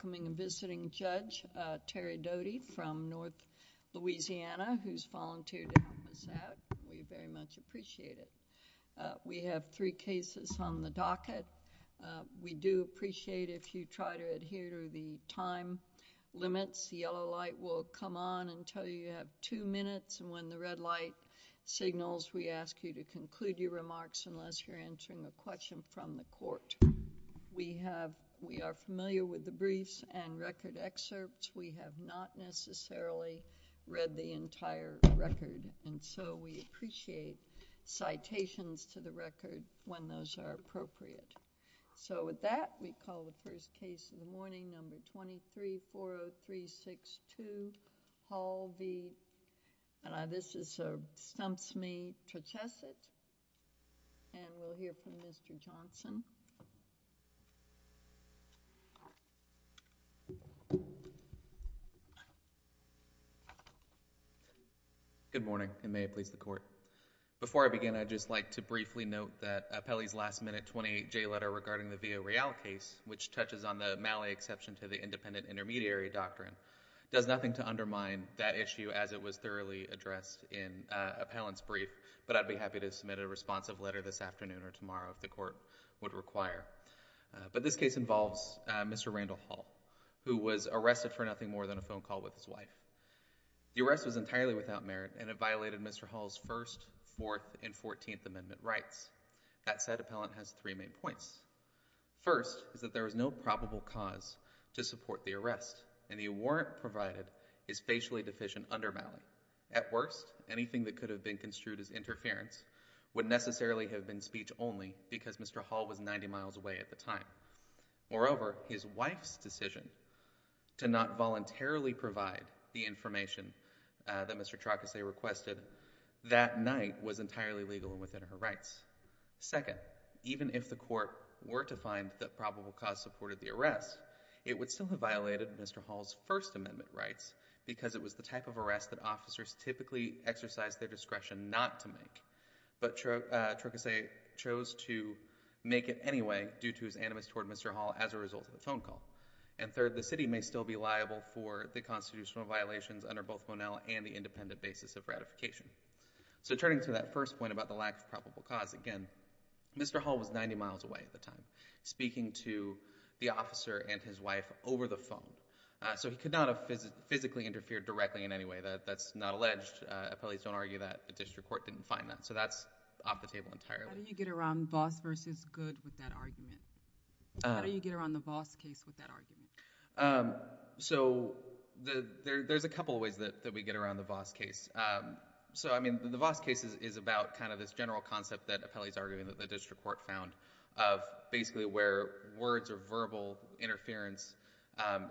coming and visiting Judge Terry Doty from North Louisiana, who's volunteered to help us out. We very much appreciate it. We have three cases on the docket. We do appreciate if you try to adhere to the time limits, the yellow light will come on until you have two minutes, and when the red light signals, we ask you to conclude your remarks unless you're entering a question from the court. We are familiar with the briefs and record excerpts. We have not necessarily read the entire record, and so we appreciate citations to the record when those are appropriate. So with that, we call the first case of the morning, number three, here from Mr. Johnson. Good morning, and may it please the Court. Before I begin, I'd just like to briefly note that Appellee's last-minute 28J letter regarding the Villareal case, which touches on the Mallet exception to the independent intermediary doctrine, does nothing to undermine that issue as it was thoroughly addressed in Appellant's brief, but I'd be happy to submit a responsive letter this afternoon or tomorrow if the Court would require. But this case involves Mr. Randall Hall, who was arrested for nothing more than a phone call with his wife. The arrest was entirely without merit, and it violated Mr. Hall's First, Fourth, and Fourteenth Amendment rights. That said, Appellant has three main points. First is that there is no probable cause to support the arrest, and the warrant provided is facially deficient under Mallet. At worst, anything that could have been construed as interference would necessarily have been speech only because Mr. Hall was 90 miles away at the time. Moreover, his wife's decision to not voluntarily provide the information that Mr. Trocase requested that night was entirely legal and within her rights. Second, even if the Court were to find that probable cause supported the arrest, it would still have violated Mr. Hall's First Amendment rights because it was the type of arrest that officers typically exercise their discretion not to make. But Trocase chose to make it anyway due to his animus toward Mr. Hall as a result of a phone call. And third, the city may still be liable for the constitutional violations under both Monell and the independent basis of ratification. So turning to that first point about the lack of probable cause, again, Mr. Hall was 90 miles away at the time, and his wife over the phone. So he could not have physically interfered directly in any way. That's not alleged. Appellees don't argue that. The district court didn't find that. So that's off the table entirely. How do you get around Voss versus Good with that argument? How do you get around the Voss case with that argument? So there's a couple of ways that we get around the Voss case. So, I mean, the Voss case is about kind of this general concept that appellees argue that the district court found of basically where words or verbal interference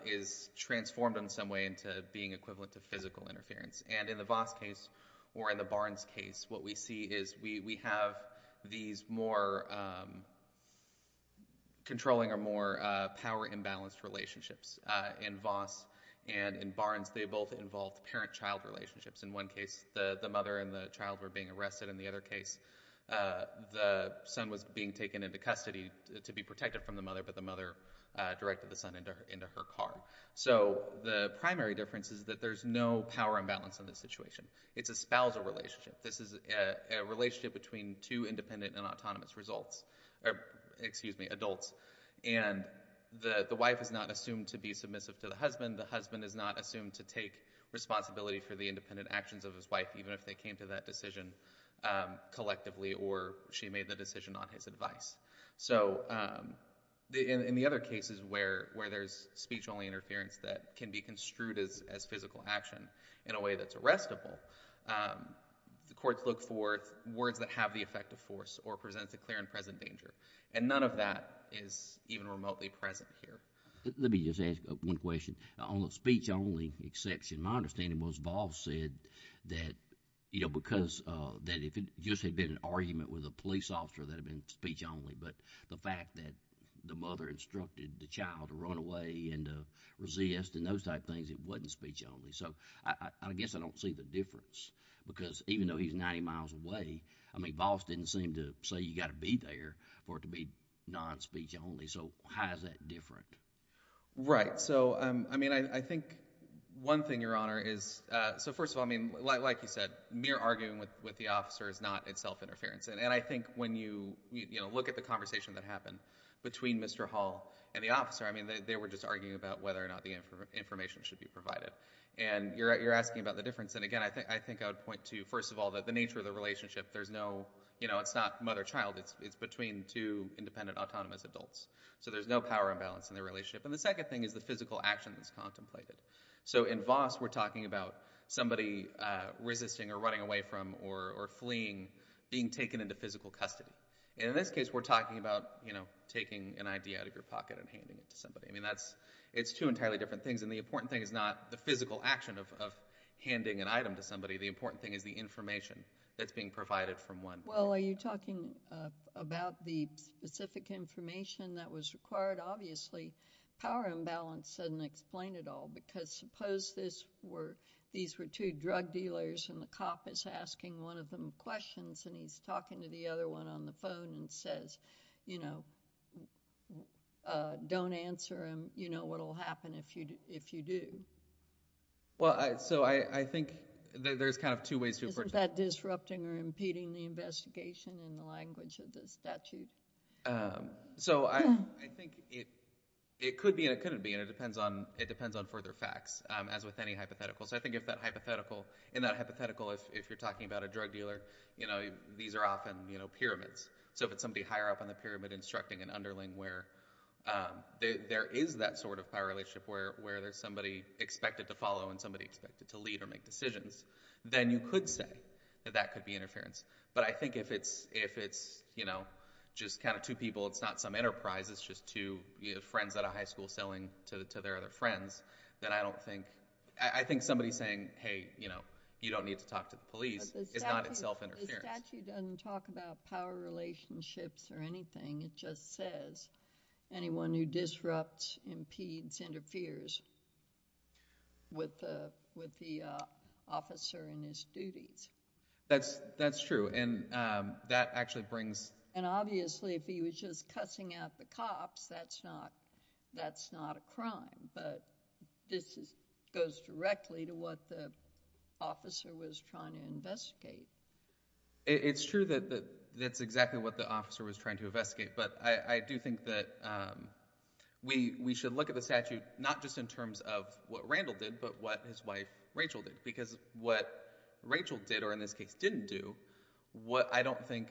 is transformed in some way into being equivalent to physical interference. And in the Voss case or in the Barnes case, what we see is we have these more controlling or more power-imbalanced relationships. In Voss and in Barnes, they both involved parent-child relationships. In one case, the mother and the child were being arrested. In the other case, the son was being taken into custody to be protected from the mother, but the mother directed the son into her car. So the primary difference is that there's no power imbalance in this situation. It's a spousal relationship. This is a relationship between two independent and autonomous results or, excuse me, adults. And the wife is not assumed to be submissive to the husband. The husband is not assumed to take responsibility for the independent actions of his wife, even if they came to that decision collectively or she made the decision on his advice. So in the other cases where there's speech-only interference that can be construed as physical action in a way that's arrestable, the courts look for words that have the effect of force or presents a clear and present danger. And none of that is even remotely present here. Let me just ask one question. On the speech-only exception, my understanding was Voss said that, you know, because that if it just had been an argument with a police officer that had been speech-only, but the fact that the mother instructed the child to run away and to resist and those type things, it wasn't speech-only. So I guess I don't see the difference, because even though he's 90 miles away, I mean, Voss didn't seem to say you got to be there for it to be non-speech-only. So how is that different? Right. So, I mean, I think one thing, Your Honor, is, so first of all, I mean, like you said, mere arguing with the officer is not itself interference. And I think when you, you know, look at the conversation that happened between Mr. Hall and the officer, I mean, they were just arguing about whether or not the information should be provided. And you're asking about the difference. And again, I think I would point to, first of all, that the nature of the relationship, there's no, you know, it's not mother-child, it's between two independent, autonomous adults. So there's no power imbalance in their relationship. And the second thing is the physical action that's contemplated. So in Voss, we're talking about somebody resisting or running away from or fleeing, being taken into physical custody. And in this case, we're talking about, you know, taking an idea out of your pocket and handing it to somebody. I mean, that's, it's two entirely different things. And the important thing is not the physical action of handing an item to somebody. The important thing is the information that's being provided from one. Well, are you talking about the specific information that was required? Obviously, power imbalance doesn't explain it all. Because suppose this were, these were two drug dealers and the cop is asking one of them questions and he's talking to the other one on the phone and says, you know, don't answer him, you know what'll happen if you do. Well, so I think there's kind of two ways to approach it. Is that disrupting or impeding the investigation in the language of the statute? So I, I think it, it could be and it couldn't be, and it depends on, it depends on further facts as with any hypothetical. So I think if that hypothetical, in that hypothetical, if you're talking about a drug dealer, you know, these are often, you know, pyramids. So if it's somebody higher up on the pyramid instructing an underling where there is that sort of power relationship where, where there's somebody expected to follow and somebody expected to lead or make decisions, then you could say that that could be interference. But I think if it's, if it's, you know, just kind of two people, it's not some enterprise, it's just two friends at a high school selling to their other friends, then I don't think, I think somebody saying, hey, you know, you don't need to talk to the police is not itself interference. The statute doesn't talk about power relationships or anything. It just says anyone who disrupts, impedes, interferes with the, with the officer in his duties. That's, that's true. And that actually brings... And obviously if he was just cussing out the cops, that's not, that's not a crime. But this goes directly to what the officer was trying to investigate. It's true that that's exactly what the officer was trying to investigate. But I do think that we, we should look at the statute not just in terms of what Randall did, but what his wife Rachel did. Because what Rachel did, or in this case didn't do, what I don't think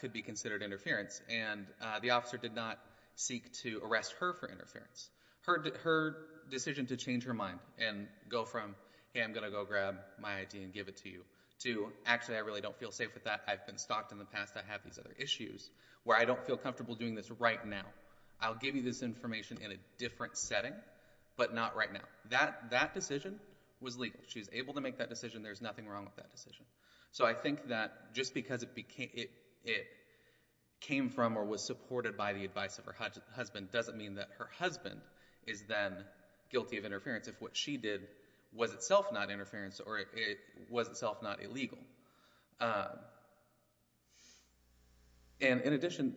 could be considered interference. And the officer did not seek to arrest her for interference. Her decision to change her mind and go from, hey, I'm going to go grab my ID and give it to you, to actually I really don't feel safe with that, I've been stalked in the past, I have these other issues, where I don't feel comfortable doing this right now. I'll give you this information in a different setting, but not right now. That, that decision was legal. She was able to make that decision. There's nothing wrong with that decision. So I think that just because it became, it, it came from or was supported by the advice of her husband doesn't mean that her husband is then guilty of interference if what she did was itself not interference or if it was itself not illegal. And in addition,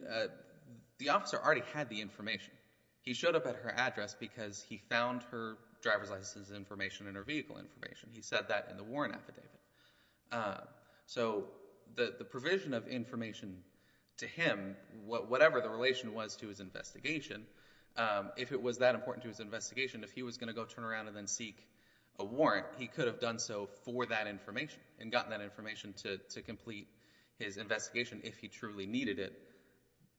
the officer already had the information. He showed up at her address because he found her driver's license information and her vehicle information. He said that in the Warren affidavit. So the, the provision of information to him, whatever the relation was to his investigation, if it was that important to his investigation, if he was going to go turn around and then seek a warrant, he could have done so for that information and gotten that information to, to complete his investigation if he truly needed it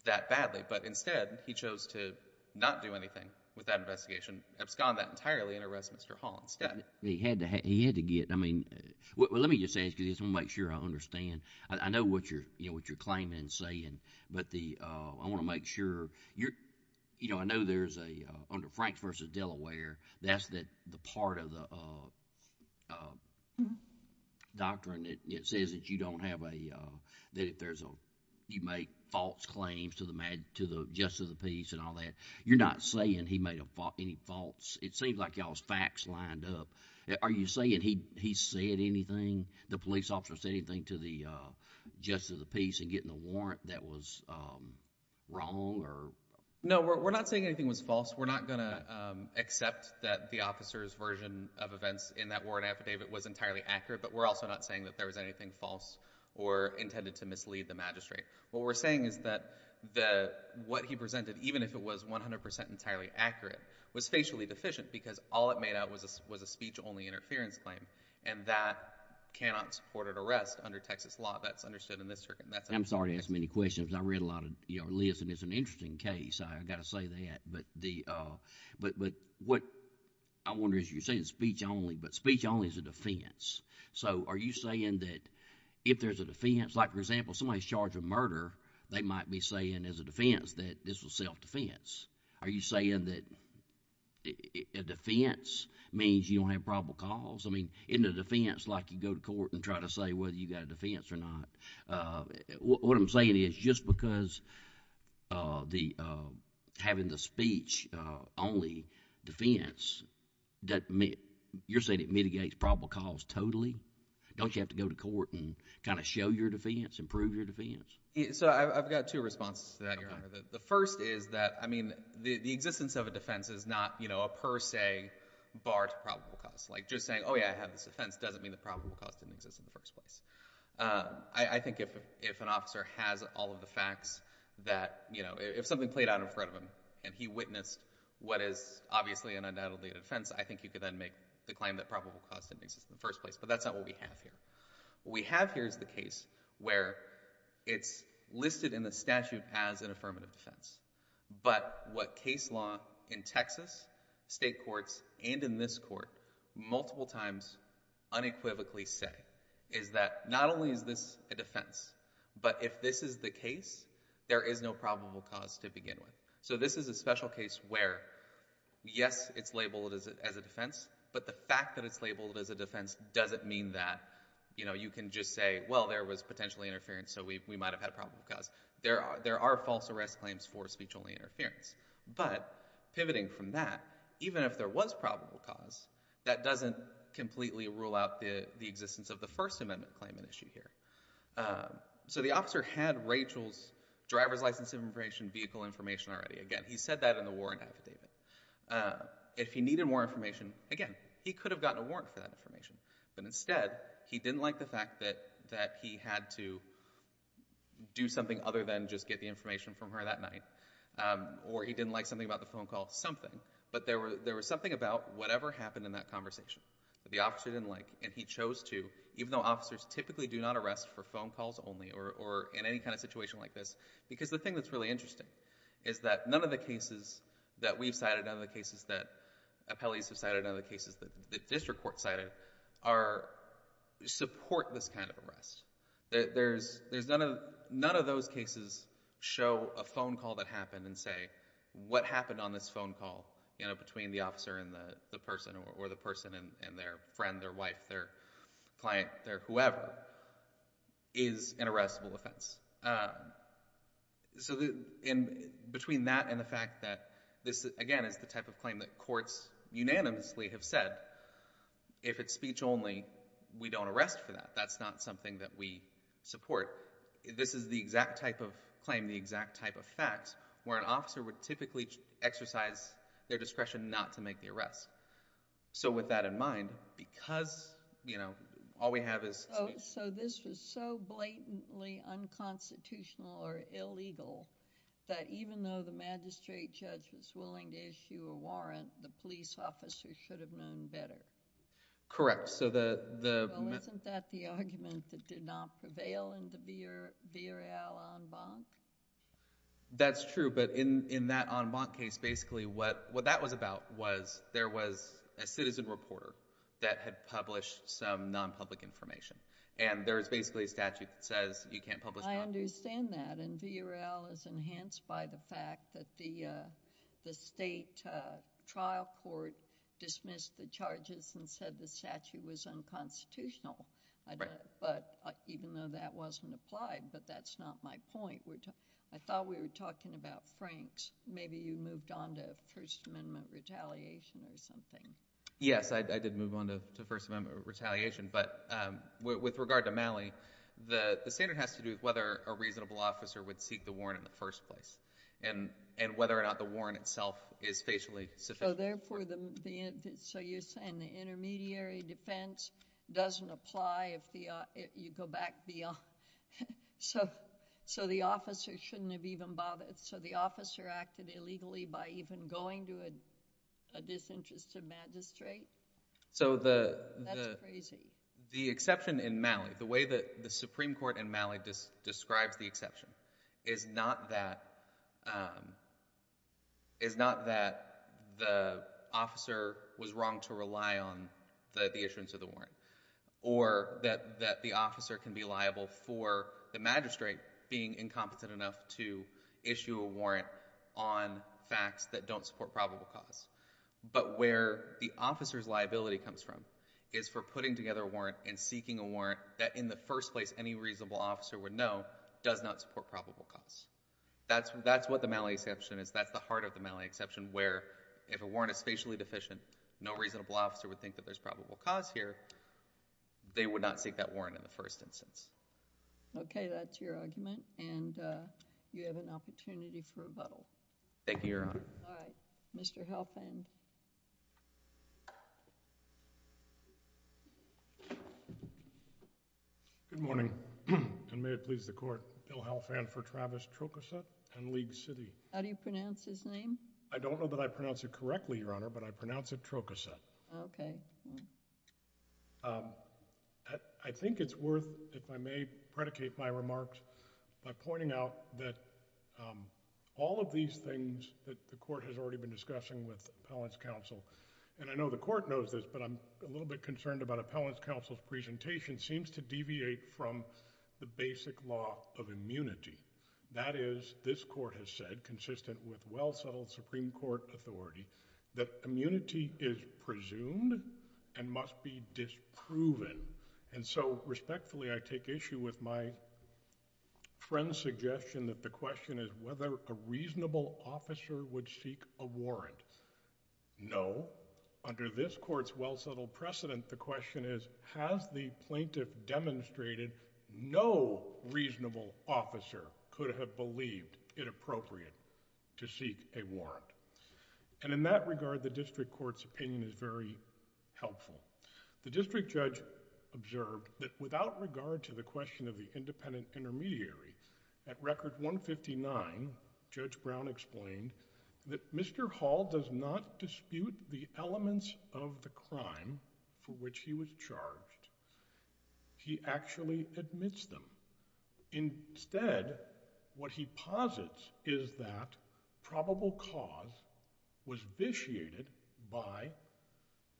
that badly. But instead he chose to not do anything with that investigation, abscond that entirely and arrest Mr. Hall instead. He had to, he had to get, I mean, well, let me just ask you this, I want to make sure I understand. I know what you're, you know, what you're claiming and saying, but the, I want to make sure you're, you know, I know there's a, under Franks v. Delaware, that's the part of the doctrine that says that you don't have a, that if there's a, you make false claims to the, to the justice of the peace and all that. You're not saying he made any false, it seems like y'all's facts lined up. Are you saying he said anything, the police officer said anything to the justice of the peace in getting the warrant that was wrong or? No, we're not saying anything was false. We're not going to accept that the officer's version of events in that warrant affidavit was entirely accurate, but we're also not saying that there was anything false or intended to mislead the magistrate. What we're saying is that the, what he presented, even if it was 100% entirely accurate, was facially deficient because all it made out was a speech-only interference claim, and that cannot support an arrest under Texas law. That's understood in this circuit. And I'm sorry to ask many questions. I read a lot of, you know, Liz, and it's an interesting case. I've got to say that, but the, but what I wonder is you're saying speech only, but speech only is a defense. So are you saying that if there's a defense, like for example, somebody's charged with murder, they might be saying as a defense that this was self-defense. Are you saying that a defense means you don't have probable cause? I mean, isn't a defense like you go to court and try to say whether you've got a defense or not? What I'm saying is just because the, having the speech-only defense doesn't mean, you're saying it mitigates probable cause totally? Don't you have to go to court and kind of show your defense, improve your defense? So I've got two responses to that, Your Honor. The first is that, I mean, the existence of a defense is not, you know, a per se bar to probable cause. Like just saying, oh yeah, I have this defense, doesn't mean that probable cause didn't exist in the first place. I think if an officer has all of the facts that, you know, if something played out in front of him and he witnessed what is obviously an undoubtedly a defense, I think you could then make the claim that probable cause didn't exist in the first place. But that's not what we have here. What we have here is the case where it's listed in the statute as an affirmative defense. But what case law in Texas, state courts, and in this court, multiple times unequivocally say, is that not only is this a defense, but if this is the case, there is no probable cause to begin with. So this is a special case where, yes, it's labeled as a defense, but the fact that it's labeled as a defense doesn't mean that, you know, you can just say, well, there was potentially interference, so we might have had probable cause. There are false arrest claims for speech-only interference. But pivoting from that, even if there was probable cause, that doesn't completely rule out the existence of the First Amendment claim in issue here. So the officer had Rachel's driver's license information, vehicle information already. Again, he said that in the warrant affidavit. If he needed more information, again, he could have gotten a warrant for that information. But instead, he didn't like the fact that he had to do something other than just get the information from her that night. Or he didn't like something about the phone call. Something. But there was something about whatever happened in that conversation that the officer didn't like, and he chose to, even though officers typically do not arrest for phone calls only or in any kind of situation like this. Because the thing that's really interesting is that none of the cases that we've cited, none of the cases that appellees have cited, none of the cases that the district court cited, support this kind of arrest. None of those cases show a phone call that happened and say, what happened on this phone call between the officer and the person, or the person and their friend, their wife, their client, their whoever, is an arrestable offense. So between that and the fact that this, again, is the type of claim that courts unanimously have said, if it's speech only, we don't arrest for that. That's not something that we support. This is the exact type of claim, the exact type of fact where an officer would typically exercise their discretion not to make the arrest. So with that in mind, because, you know, all we have is... So this was so blatantly unconstitutional or illegal, that even though the magistrate judge was willing to issue a warrant, the police officer should have known better? Correct. So the... Well, isn't that the argument that did not prevail in the V. R. L. en banc? That's true, but in that en banc case, basically what that was about was there was a citizen reporter that had published some non-public information. And there was basically a statute that says you can't publish... I understand that, and V. R. L. is enhanced by the fact that the state trial court dismissed the charges and said the statute was unconstitutional. Right. But even though that wasn't applied, but that's not my point. I thought we were talking about Franks. Maybe you moved on to First Amendment retaliation or something. Yes, I did move on to First Amendment retaliation, but with regard to Malley, the standard has to do with whether a reasonable officer would seek the warrant in the first place, and whether or not the warrant itself is facially sufficient. So therefore, so you're saying the intermediary defense doesn't apply if you go back beyond... So the officer shouldn't have even bothered... So the officer acted illegally by even going to a disinterested magistrate? That's crazy. So the exception in Malley, the way that the Supreme Court in Malley describes the exception is not that the officer was wrong to rely on the issuance of the warrant, or that the officer can be liable for the magistrate being incompetent enough to issue a warrant on facts that don't support probable cause, but where the officer's liability comes from is for putting together a warrant and seeking a warrant that in the first place any reasonable officer would know does not support probable cause. That's what the Malley exception is. That's the heart of the Malley exception, where if a warrant is facially deficient, no reasonable officer would think that there's probable cause here. They would not seek that warrant in the first instance. Okay, that's your argument, and you have an opportunity for rebuttal. Thank you, Your Honor. All right. Mr. Helfand. Good morning, and may it please the Court, Bill Helfand for Travis Trocosa and League City. How do you pronounce his name? I don't know that I pronounce it correctly, Your Honor, but I pronounce it Trocosa. Okay. I think it's worth, if I may, predicate my remarks by pointing out that all of these things that the Court has already been discussing with Appellant's counsel, and I know the Court knows this, but I'm a little bit concerned about Appellant's counsel's presentation, seems to deviate from the basic law of immunity. That is, this Court has said, consistent with and must be disproven. And so, respectfully, I take issue with my friend's suggestion that the question is whether a reasonable officer would seek a warrant. No. Under this Court's well-settled precedent, the question is, has the plaintiff demonstrated no reasonable officer could have believed it appropriate to seek a warrant? And in that regard, the District Court's opinion is very helpful. The District Judge observed that without regard to the question of the independent intermediary, at Record 159, Judge Brown explained that Mr. Hall does not dispute the elements of the crime for which he was charged. He actually admits them. Instead, what he posits is that probable cause is the fact that Mr. Hall's was vitiated by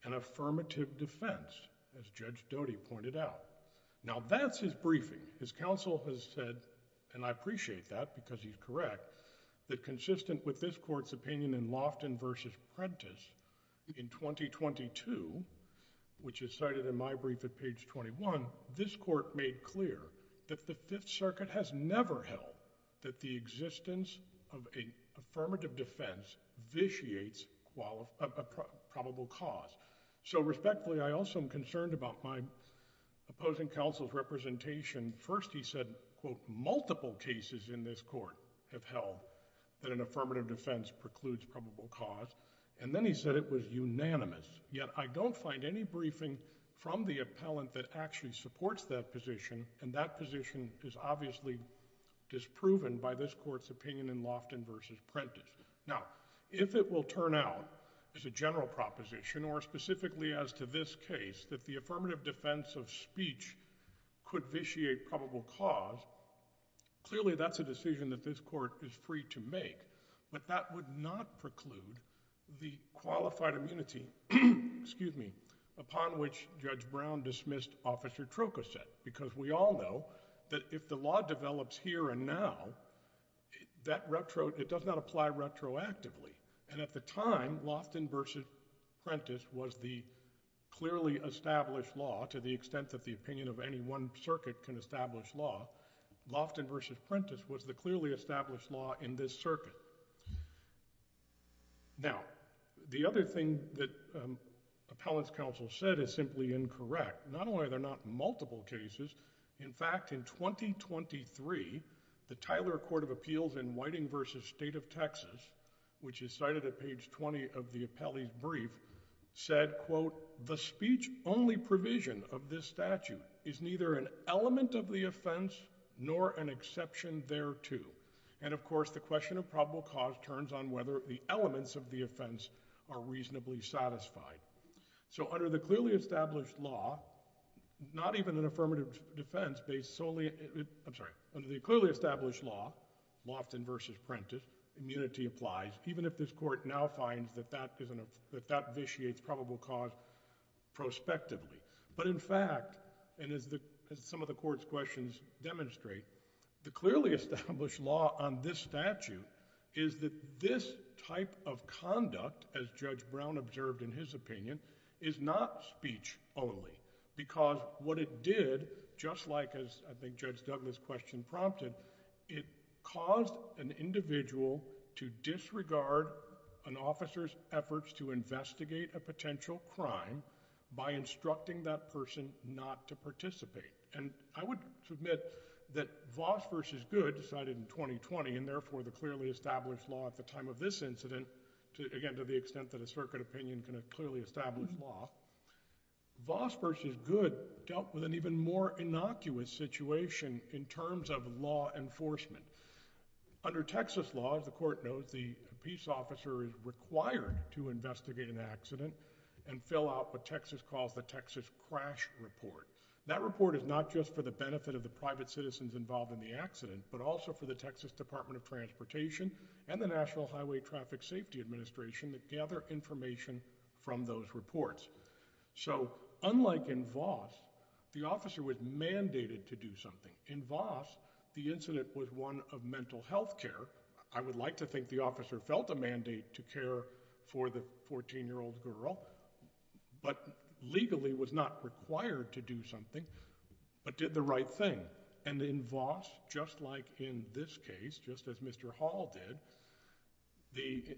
an affirmative defense, as Judge Doty pointed out. Now, that's his briefing. His counsel has said, and I appreciate that because he's correct, that consistent with this Court's opinion in Loftin v. Prentice in 2022, which is cited in my brief at page 21, this Court made clear that the Fifth Circuit has never held that the defendant vitiates probable cause. So respectfully, I also am concerned about my opposing counsel's representation. First, he said, quote, multiple cases in this Court have held that an affirmative defense precludes probable cause. And then he said it was unanimous. Yet I don't find any briefing from the appellant that actually supports that position, and that position is obviously disproven by this Court's opinion in Loftin v. Prentice. Now, if it will turn out, as a general proposition or specifically as to this case, that the affirmative defense of speech could vitiate probable cause, clearly that's a decision that this Court is free to make, but that would not preclude the qualified immunity, excuse me, upon which Judge Brown dismissed Officer Trokoset, because we all know that if the law develops here and now, that retro, it does not apply retroactively. And at the time, Loftin v. Prentice was the clearly established law to the extent that the opinion of any one circuit can establish law. Loftin v. Prentice was the clearly established law in this circuit. Now, the other thing that appellant's counsel said is simply incorrect. Not only are there not multiple cases, in fact, in 2023, the Tyler Court of Appeals in Whiting v. State of Texas, which is cited at page 20 of the appellee's brief, said, quote, the speech-only provision of this statute is neither an element of the offense nor an exception thereto. And, of course, the question of probable cause turns on whether the elements of the offense are reasonably satisfied. So, under the clearly established law, not even an affirmative defense based solely, I'm sorry, under the clearly established law, Loftin v. Prentice, immunity applies, even if this Court now finds that that vitiates probable cause prospectively. But, in fact, and as some of the Court's questions demonstrate, the clearly established law on this statute is that this type of conduct, as Judge Brown observed in his opinion, is not speech-only because what it did, just like, as I think Judge Douglas' question prompted, it caused an individual to disregard an officer's efforts to investigate a potential crime by instructing that person not to participate. And I would submit that Voss v. Goode decided in 2020, and therefore the clearly established law at the time of this incident, again, to the extent that a circuit opinion can clearly establish law, Voss v. Goode dealt with an even more innocuous situation in terms of law enforcement. Under Texas law, as the Court knows, the peace officer is required to investigate an accident and fill out what Texas calls the Texas Crash Report. That report is not just for the benefit of the private citizens involved in the accident, but also for the Texas Department of Transportation and the National Highway Traffic Safety Administration that gather information from those reports. So, unlike in Voss, the officer was mandated to do something. In Voss, the incident was one of mental health care. I would like to think the officer felt a mandate to care for the 14-year-old girl, but legally was not required to do something, but did the right thing. And in Voss, just like in this case, just as Mr. Hall did,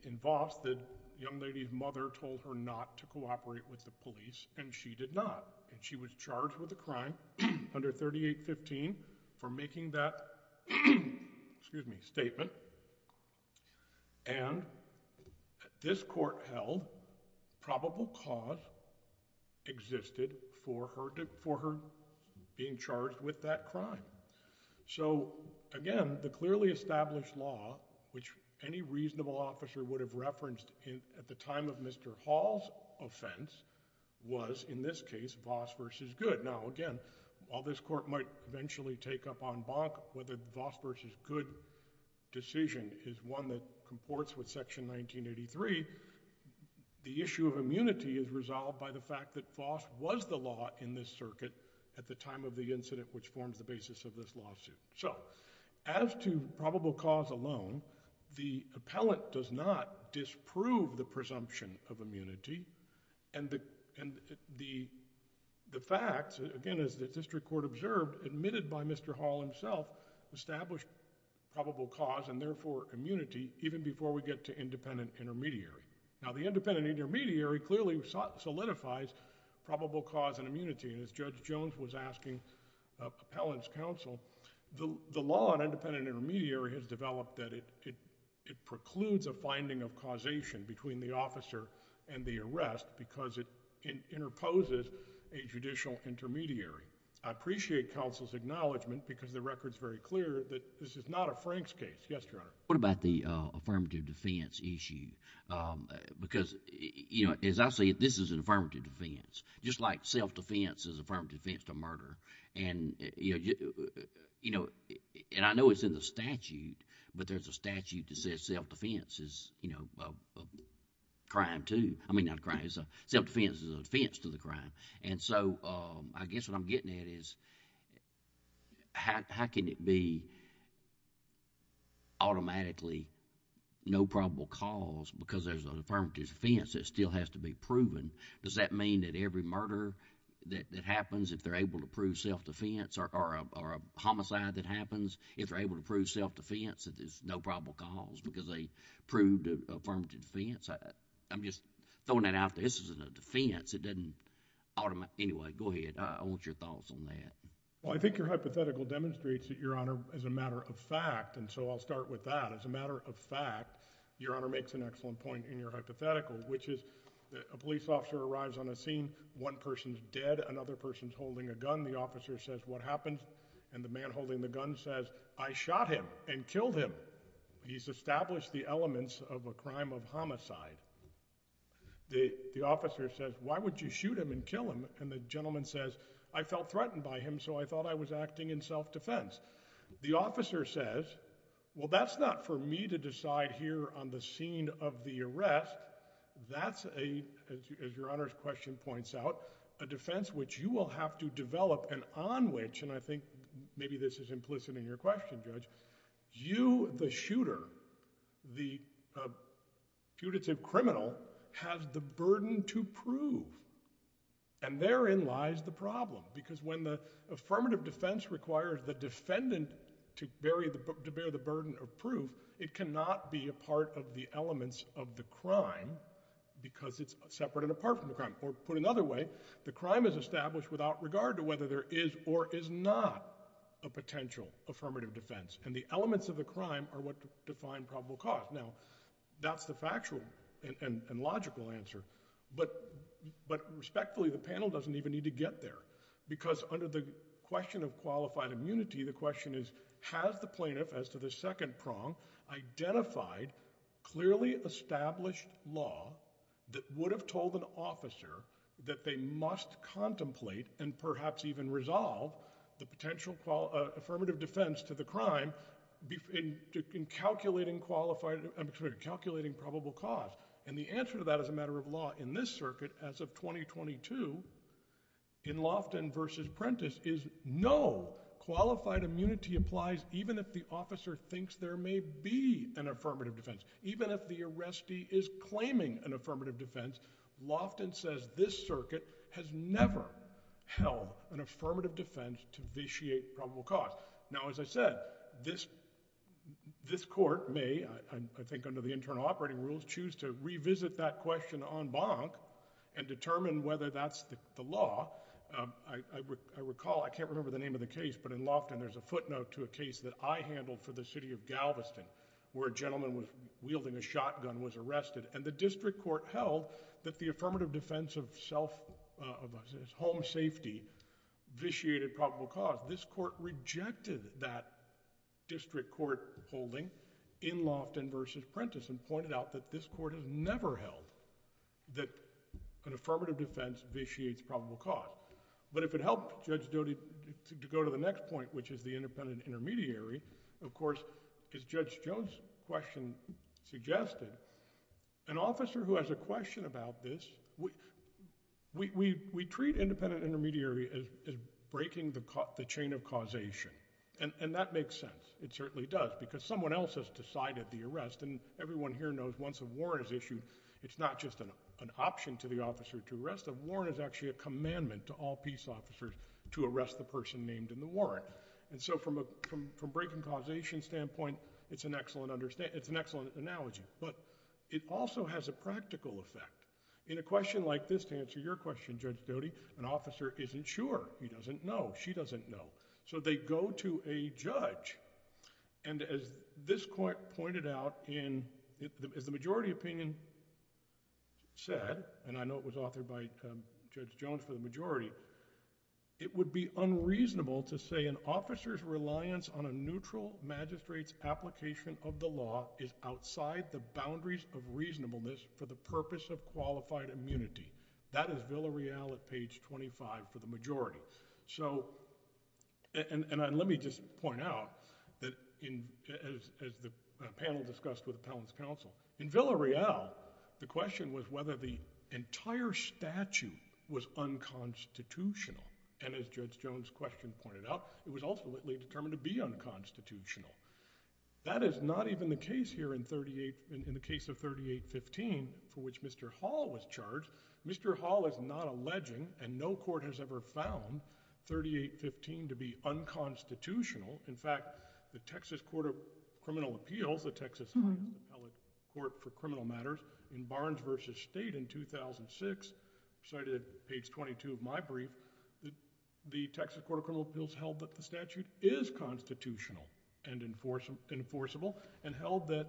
in Voss, the young lady's mother told her not to cooperate with the police, and she did not. And she was charged with a crime, 138-15, for making that statement. And this Court held probable cause existed for her being charged with that crime. So, again, the clearly established law, which any reasonable officer would have referenced at the time of Mr. Hall's offense, was, in now, again, while this Court might eventually take up en banc whether Voss v. Good decision is one that comports with Section 1983, the issue of immunity is resolved by the fact that Voss was the law in this circuit at the time of the incident which forms the basis of this lawsuit. So, as to probable cause alone, the appellant does not disprove the case. Again, as the District Court observed, admitted by Mr. Hall himself, established probable cause and, therefore, immunity even before we get to independent intermediary. Now, the independent intermediary clearly solidifies probable cause and immunity. And as Judge Jones was asking appellant's counsel, the law on independent intermediary has developed that it precludes a finding of causation between the officer and the arrest because it interposes a judicial intermediary. I appreciate counsel's acknowledgement because the record is very clear that this is not a Frank's case. Yes, Your Honor. What about the affirmative defense issue? Because, you know, as I see it, this is an affirmative defense. Just like self-defense is an affirmative defense to murder. And, you know, and I know it's in the statute, but there's a statute that says self-defense is, you know, a crime, too. I mean, not a crime. Self-defense is a defense to the crime. And so, I guess what I'm getting at is how can it be automatically no probable cause because there's an affirmative defense that still has to be proven? Does that mean that every murder that happens, if they're able to prove self-defense or a homicide that happens, if they're able to prove self-defense, that there's no probable cause because they proved affirmative defense? I'm just throwing that out there. This isn't a defense. It doesn't automatically... Anyway, go ahead. I want your thoughts on that. Well, I think your hypothetical demonstrates that, Your Honor, as a matter of fact, and so I'll start with that. As a matter of fact, Your Honor makes an excellent point in your hypothetical, which is a police officer arrives on a scene. One person's dead. Another person's killed, and the gun says, I shot him and killed him. He's established the elements of a crime of homicide. The officer says, why would you shoot him and kill him? And the gentleman says, I felt threatened by him, so I thought I was acting in self-defense. The officer says, well, that's not for me to decide here on the scene of the arrest. That's a, as Your Honor's question points out, a defense which you will have to develop and on which, and I think maybe this is implicit in your question, Judge, you, the shooter, the punitive criminal, have the burden to prove. And therein lies the problem because when the affirmative defense requires the defendant to bear the burden of proof, it cannot be a part of the elements of the crime because it's separate and apart from the crime. Or put another way, the crime is established without regard to whether there is or is not a potential affirmative defense, and the elements of the crime are what define probable cause. Now, that's the factual and logical answer, but respectfully, the panel doesn't even need to get there because under the question of qualified immunity, the question is, has the plaintiff, as to the second prong, identified clearly established law that would have told an officer that they must contemplate and perhaps even resolve the potential affirmative defense to the crime in calculating qualified, I'm sorry, calculating probable cause. And the answer to that as a matter of law in this circuit as of 2022 in Loftin v. Prentice is no, qualified immunity applies even if the officer thinks there may be an affirmative defense. Loftin says this circuit has never held an affirmative defense to vitiate probable cause. Now, as I said, this court may, I think under the internal operating rules, choose to revisit that question en banc and determine whether that's the law. I recall, I can't remember the name of the case, but in Loftin there's a footnote to a case that I handled for the city of Galveston where a gentleman was wielding a shotgun was held that the affirmative defense of home safety vitiated probable cause. This court rejected that district court holding in Loftin v. Prentice and pointed out that this court has never held that an affirmative defense vitiates probable cause. But if it helped Judge Doty to go to the next point, which is the independent intermediary, of course, as Judge Jones' question suggested, an officer who has a question about this, we treat independent intermediary as breaking the chain of causation. And that makes sense. It certainly does because someone else has decided the arrest and everyone here knows once a warrant is issued, it's not just an option to the officer to arrest them. Warrant is actually a commandment to all peace officers to arrest the person named in the warrant. And so from a breaking causation standpoint, it's an excellent analogy. But it also has a practical effect. In a question like this to answer your question, Judge Doty, an officer isn't sure. He doesn't know. She doesn't know. So they go to a judge and as this court pointed out, as the majority opinion said, and I know it was authored by Judge Jones for the majority, it would be unreasonable to say an officer's reliance on a neutral magistrate's application of the law is outside the boundaries of reasonableness for the purpose of qualified immunity. That is Villa Real at page 25 for the majority. So and let me just point out that as the panel discussed with Appellant's counsel, in Villa Real, the entire statute was unconstitutional. And as Judge Jones' question pointed out, it was ultimately determined to be unconstitutional. That is not even the case here in the case of 3815 for which Mr. Hall was charged. Mr. Hall is not alleging and no court has ever found 3815 to be unconstitutional. In fact, the Texas Court of Criminal Appeals, the Texas High Court for Criminal Matters in Barnes v. State in 2006, cited at page 22 of my brief, the Texas Court of Criminal Appeals held that the statute is constitutional and enforceable and held that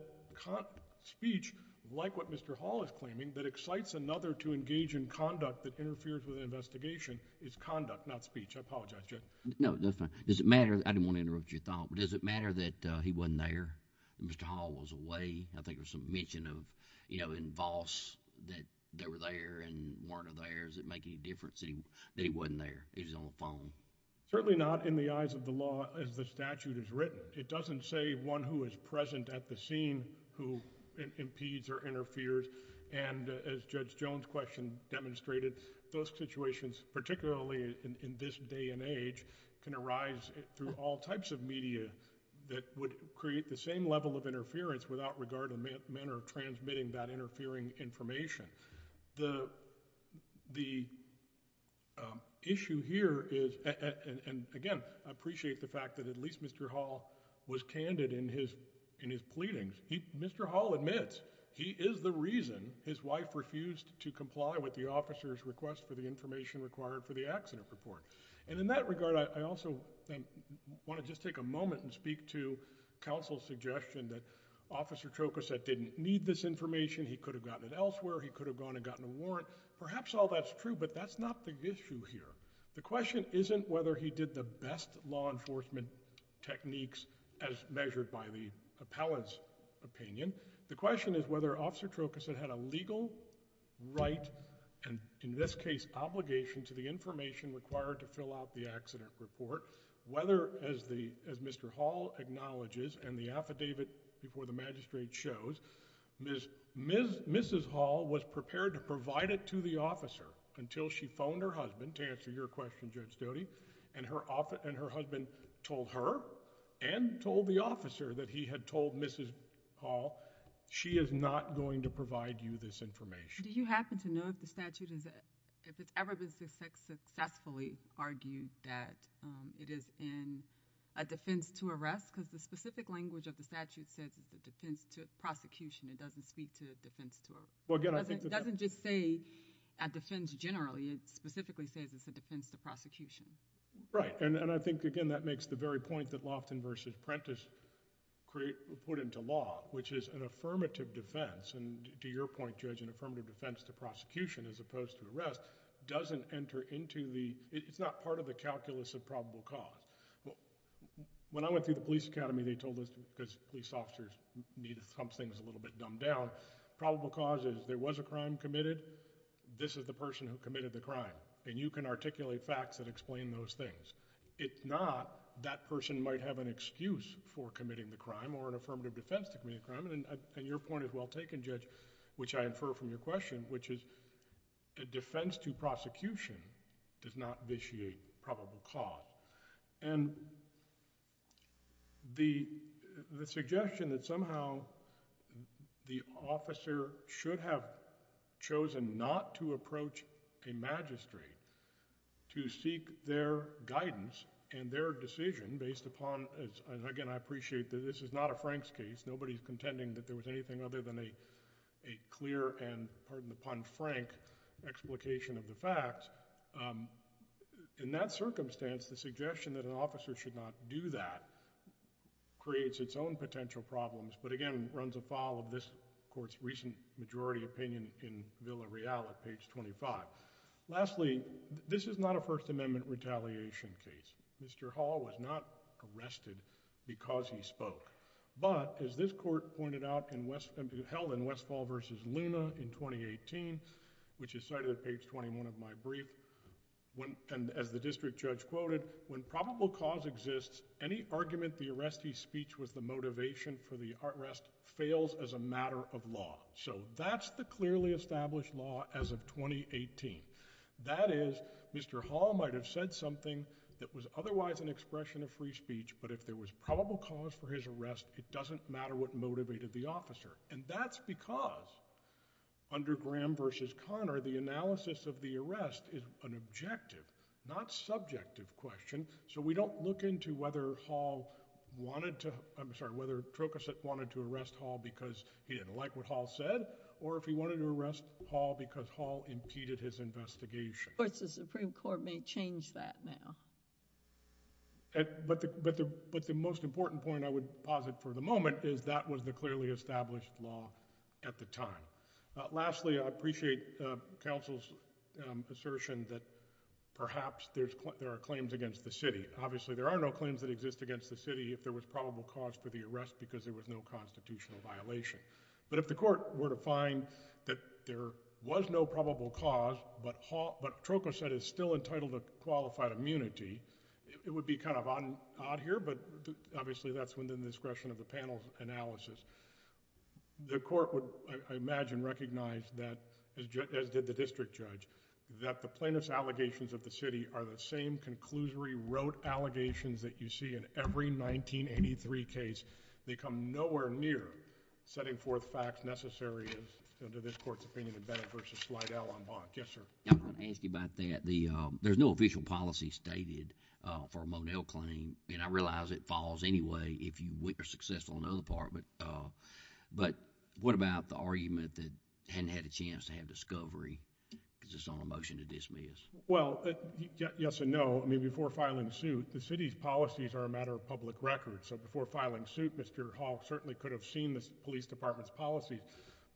speech, like what Mr. Hall is claiming, that excites another to engage in conduct that interferes with an investigation is conduct, not speech. I apologize, Judge. No, that's fine. Does it matter, I didn't want to interrupt your thought, but does it matter that he wasn't there, that Mr. Hall was away? I think there was some mention of, you know, in Voss that they were there and weren't there. Does it make any difference that he wasn't there, he was on the phone? Certainly not in the eyes of the law as the statute is written. It doesn't say one who is present at the scene who impedes or interferes. And as Judge Jones' question demonstrated, those situations, particularly in this day and age, can arise through all types of media that would create the same level of interference without regard to the manner of transmitting that interfering information. The issue here is, and again, I appreciate the fact that at least Mr. Hall was candid in his pleadings. Mr. Hall admits he is the reason his wife refused to comply with the officer's request for the information required for the accident report. And in that regard, I also want to just take a moment and speak to counsel's suggestion that Officer Trokoset didn't need this information. He could have gotten it elsewhere. He could have gone and gotten a warrant. Perhaps all that's true, but that's not the issue here. The question isn't whether he did the best law enforcement techniques as measured by the appellant's opinion. The question is whether Officer Trokoset had a legal right, and in this case obligation, to the information required to fill out the accident report, whether, as Mr. Hall acknowledges and the affidavit before the magistrate shows, Mrs. Hall was prepared to provide it to the officer until she phoned her husband to answer your question, Judge Doty, and her husband told her and told the officer that he had told Mrs. Hall, she is not going to provide you this information. Do you happen to know if the statute, if it's ever been successfully argued that it is in a defense to arrest? Because the specific language of the statute says it's a defense to prosecution. It doesn't speak to a defense to arrest. It doesn't just say a defense generally. It specifically says it's a defense to prosecution. Right. And I think, again, that makes the very point that Loftin v. Prentice put into law, which is an affirmative defense, and to your point, Judge, an affirmative defense to prosecution as opposed to arrest doesn't enter into the... it's not part of the calculus of probable cause. When I went through the police academy, they told us, because police officers need to thump things a little bit dumbed down, probable cause is there was a crime committed, this is the person who committed the crime, and you can articulate facts that explain those things. If not, that person might have an excuse for committing the crime or an affirmative defense to commit a crime, and your point is well taken, Judge, which I infer from your question, which is a defense to prosecution does not vitiate probable cause. And the suggestion that somehow the officer should have chosen not to approach a magistrate to seek their guidance and their decision based upon... again, I appreciate that this is not a Frank's case. Nobody's contending that there was anything other than a clear and, pardon the pun, Frank explication of the facts. In that circumstance, the suggestion that an officer should not do that creates its own potential problems, but again, runs afoul of this Court's recent majority opinion in Villa Real at page 25. Lastly, this is not a First Amendment retaliation case. Mr. Hall was not arrested because he spoke, but as this Court pointed out and held in Westfall v. Luna in 2018, which is cited at page 21 of my brief, and as the district judge quoted, when probable cause exists, any argument the arrestee's speech was the motivation for the arrest fails as a matter of law. So, that's the clearly established law as of 2018. That is, Mr. Hall might have said something that was otherwise an expression of free speech, but if there was probable cause for his arrest, it doesn't matter what motivated the officer. And that's because, under Graham v. Conner, the analysis of the arrest is an objective, not subjective question, so we don't look into whether Hall wanted to... I'm sorry, whether Trocassette wanted to arrest Hall because he didn't like what Hall said, or if he wanted to arrest Hall because Hall impeded his investigation. Of course, the Supreme Court may change that now. But the most important point I would posit for the moment is that was the clearly established law at the time. Lastly, I appreciate counsel's assertion that perhaps there are claims against the city. Obviously, there are no claims that exist against the city if there was probable cause for the arrest because there was no constitutional violation. But if the court were to find that there was no probable cause, but Trocassette is still entitled to qualified immunity, it would be kind of odd here, but obviously that's within the discretion of the panel's analysis. The court would, I imagine, recognize that, as did the district judge, that the plaintiff's allegations of the city are the same conclusory rote allegations that you see in every 1983 case. They come nowhere near setting forth facts necessary as to this court's opinion of Bennett versus Slidell on Bonk. Yes, sir. I'm going to ask you about that. There's no official policy stated for a Monell claim, and I realize it falls anyway if you are successful on the other part, but what about the argument that hadn't had a chance to have discovery because it's on a motion to dismiss? Well, yes and no. I mean, before filing suit, the city's policies are a matter of public record. So before filing suit, Mr. Hall certainly could have seen the police department's policies,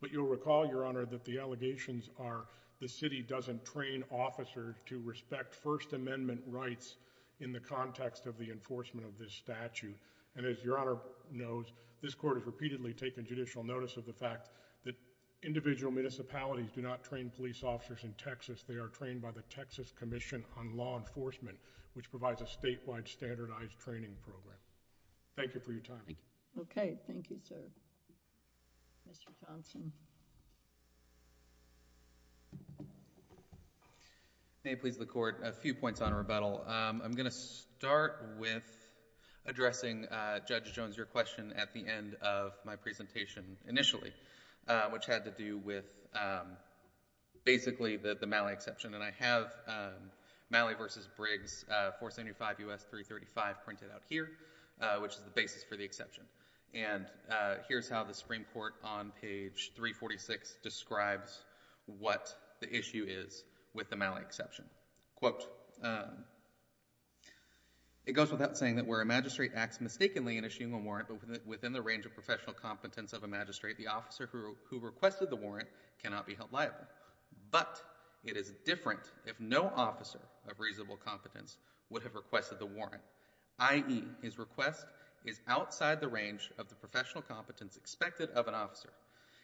but you'll recall, Your Honor, that the allegations are the city doesn't train officers to respect First Amendment rights in the context of the enforcement of this statute. And as Your Honor knows, this court has repeatedly taken judicial notice of the fact that individual municipalities do not train police officers in Texas. They are trained by the Texas Commission on Law Enforcement, which provides a statewide standardized training program. Thank you for your time. Okay. Thank you, sir. Mr. Johnson. May it please the Court, a few points on rebuttal. I'm going to start with addressing, Judge Jones, your question at the end of my presentation initially, which had to do with basically the Malley exception. And I have Malley v. Briggs 475 U.S. 335 printed out here, which is the basis for the exception. And here's how the Supreme Court, on page 346, describes what the issue is with the Malley exception. Quote, it goes without saying that where a magistrate acts mistakenly in issuing a warrant, but within the range of professional competence of a magistrate, the officer who requested the warrant cannot be held liable. But it is different if no officer of reasonable competence would have requested the warrant, i.e., his request is outside the range of the professional competence expected of an officer.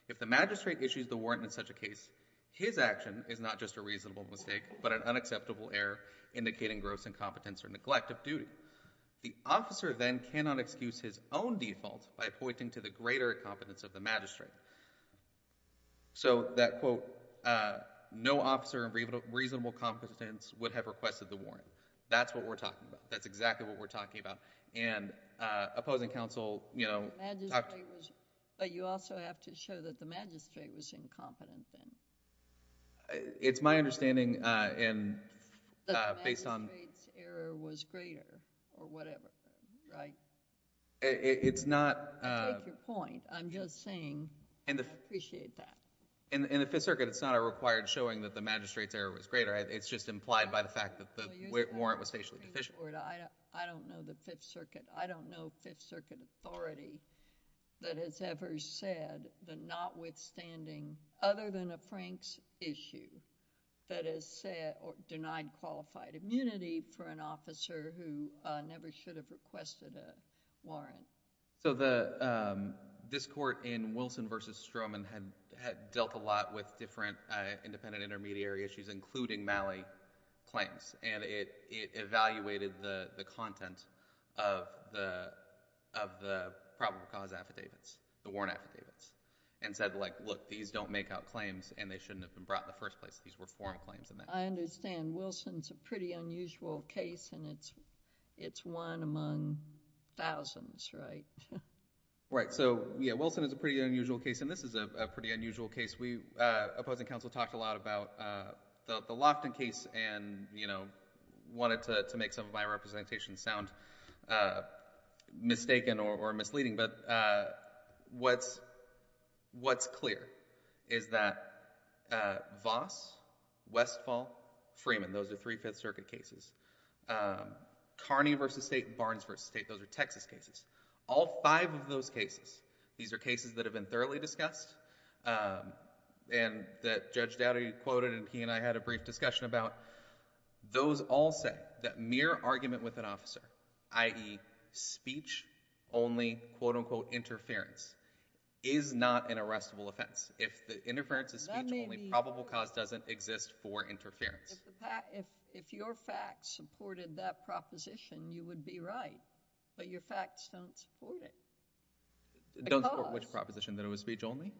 If the magistrate issues the warrant in such a case, his action is not just a reasonable mistake, but an unacceptable error indicating gross incompetence or neglect of duty. The officer then cannot excuse his own default by pointing to the greater competence of the magistrate. So, that quote, no officer of reasonable competence would have requested the warrant. That's what we're talking about. That's exactly what we're talking about. And opposing counsel, you know... But you also have to show that the magistrate was incompetent then. It's my understanding and based on... That the magistrate's error was greater or whatever, right? It's not... You make your point. I'm just saying I appreciate that. In the Fifth Circuit, it's not a required showing that the magistrate's error was greater. It's just implied by the fact that the warrant was facially deficient. I don't know the Fifth Circuit. I don't know Fifth Circuit authority that has ever said that notwithstanding, other than a Frank's issue, that has said or denied qualified immunity for an officer who never should have requested a warrant. So, this court in Wilson v. Stroman had dealt a lot with different independent intermediary issues, including Malley claims. And it evaluated the content of the probable cause affidavits, the warrant affidavits, and said like, look, these don't make out claims and they shouldn't have been brought in the first place. These were foreign claims. I understand. And Wilson's a pretty unusual case and it's one among thousands, right? Right. So, yeah, Wilson is a pretty unusual case and this is a pretty unusual case. We, opposing counsel, talked a lot about the Lofton case and wanted to make some of my representations sound mistaken or misleading, but what's clear is that Voss, Westfall, Freeman, those are three Fifth Circuit cases. Carney v. State and Barnes v. State, those are Texas cases. All five of those cases, these are cases that have been thoroughly discussed and that Judge Dowdy quoted and he and I had a brief discussion about, those all said that mere argument with an officer, i.e. speech only, quote unquote, interference, is not an arrestable offense. If the interference is speech only, probable cause doesn't exist for interference. If your facts supported that proposition, you would be right, but your facts don't support it. Don't support which proposition? That it was speech only?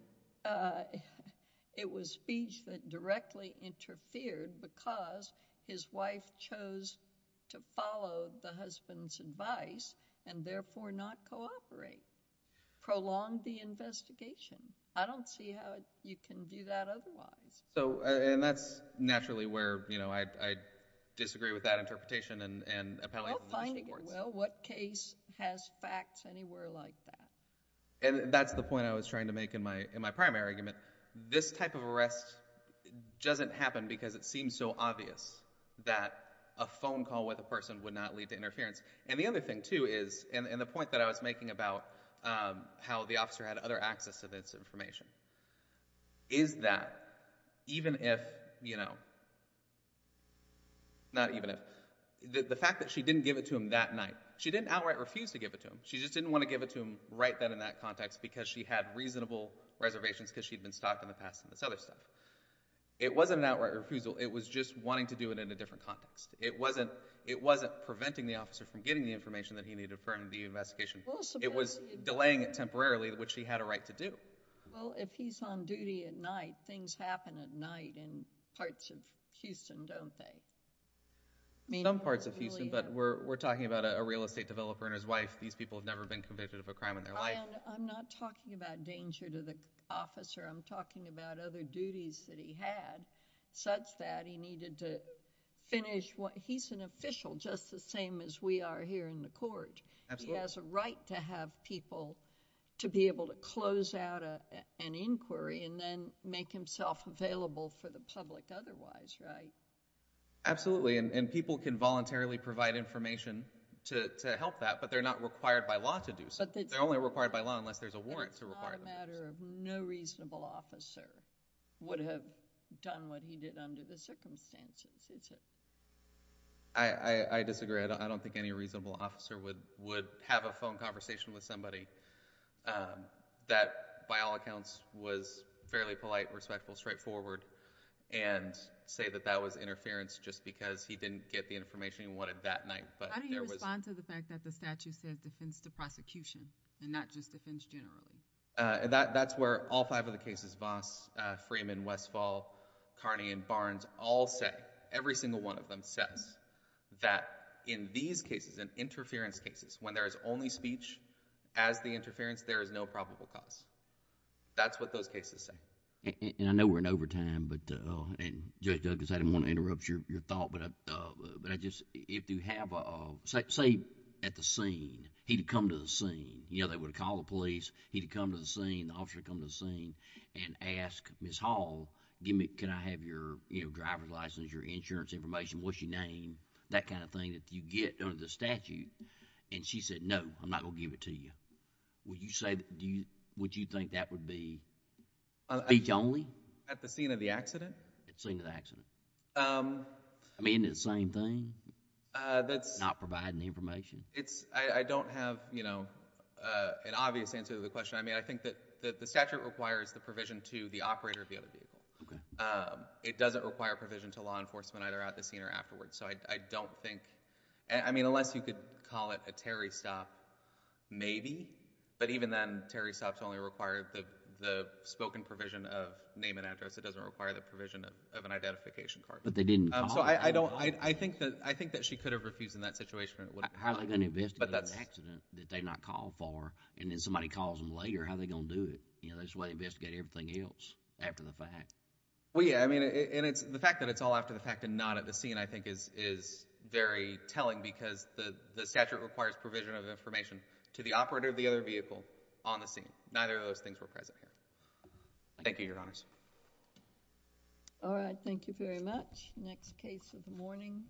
It was speech that directly interfered because his wife chose to follow the husband's advice and therefore not cooperate. Prolonged the investigation. I don't see how you can do that otherwise. So, and that's naturally where, you know, I disagree with that interpretation and appellate. Well, what case has facts anywhere like that? And that's the point I was trying to make in my primary argument. This type of arrest doesn't happen because it seems so obvious that a phone call with a person would not lead to interference. And the other thing, too, is, and the point that I was making about how the officer had other access to this information, is that even if, you know, not even if, the fact that she didn't give it to him that night, she didn't outright refuse to give it to him. She just didn't want to give it to him right then and that context because she had reasonable reservations because she'd been stalked in the past and this other stuff. It wasn't an outright refusal. It was just wanting to do it in a different context. It wasn't preventing the officer from getting the information that he needed for the investigation. It was delaying it temporarily, which he had a right to do. Well, if he's on duty at night, things happen at night in parts of Houston, don't they? Some parts of Houston, but we're talking about a real estate developer and his wife. These people have never been convicted of a crime in their life. I'm not talking about danger to the officer. I'm talking about other duties that he had such that he needed to finish what, he's an official just the same as we are here in the court. He has a right to have people to be able to close out an inquiry and then make himself available for the public otherwise, right? Absolutely, and people can voluntarily provide information to help that, but they're not required by law to do so. They're only required by law unless there's a warrant to require them to do so. It's not a matter of no reasonable officer would have done what he did under the circumstances, is it? I disagree. I don't think any reasonable officer would have a phone conversation with somebody that by all accounts was fairly polite, respectful, straightforward, and say that that was interference just because he didn't get the information he wanted that night. How do you respond to the fact that the statute says defense to prosecution and not just defense generally? That's where all five of the cases, Voss, Freeman, Westfall, Carney, and Barnes all say, every single one of them says, that in these cases, in interference cases, when there is only speech as the interference, there is no probable cause. That's what those cases say. I know we're in overtime, and Judge Douglas, I didn't want to interrupt your thought, but if you have a... say at the scene, he'd come to the scene. They would call the police. He'd come to the scene. The officer would come to the scene and ask Ms. Hall, can I have your driver's license or your insurance information, what's your name, that kind of thing that you get under the statute? And she said, no, I'm not going to give it to you. Would you think that would be speech only? At the scene of the accident? At the scene of the accident. I mean, isn't it the same thing, not providing the information? I don't have an obvious answer to the question. I think that the statute requires the provision to the operator of the other vehicle. Okay. It doesn't require provision to law enforcement either at the scene or afterwards. So I don't think... I mean, unless you could call it a Terry stop, maybe. But even then, Terry stops only require the spoken provision of name and address. It doesn't require the provision of an identification card. But they didn't call... So I don't... I think that she could have refused in that situation. How are they going to investigate an accident that they not called for, and then somebody calls them later? How are they going to do it? There's a way to investigate everything else after the fact. Well, yeah. I mean, the fact that it's all after the fact and not at the scene, I think, is very telling because the statute requires provision of information to the operator of the other vehicle on the scene. Neither of those things were present here. Thank you, Your Honors. All right. Thank you very much. Next case of the morning.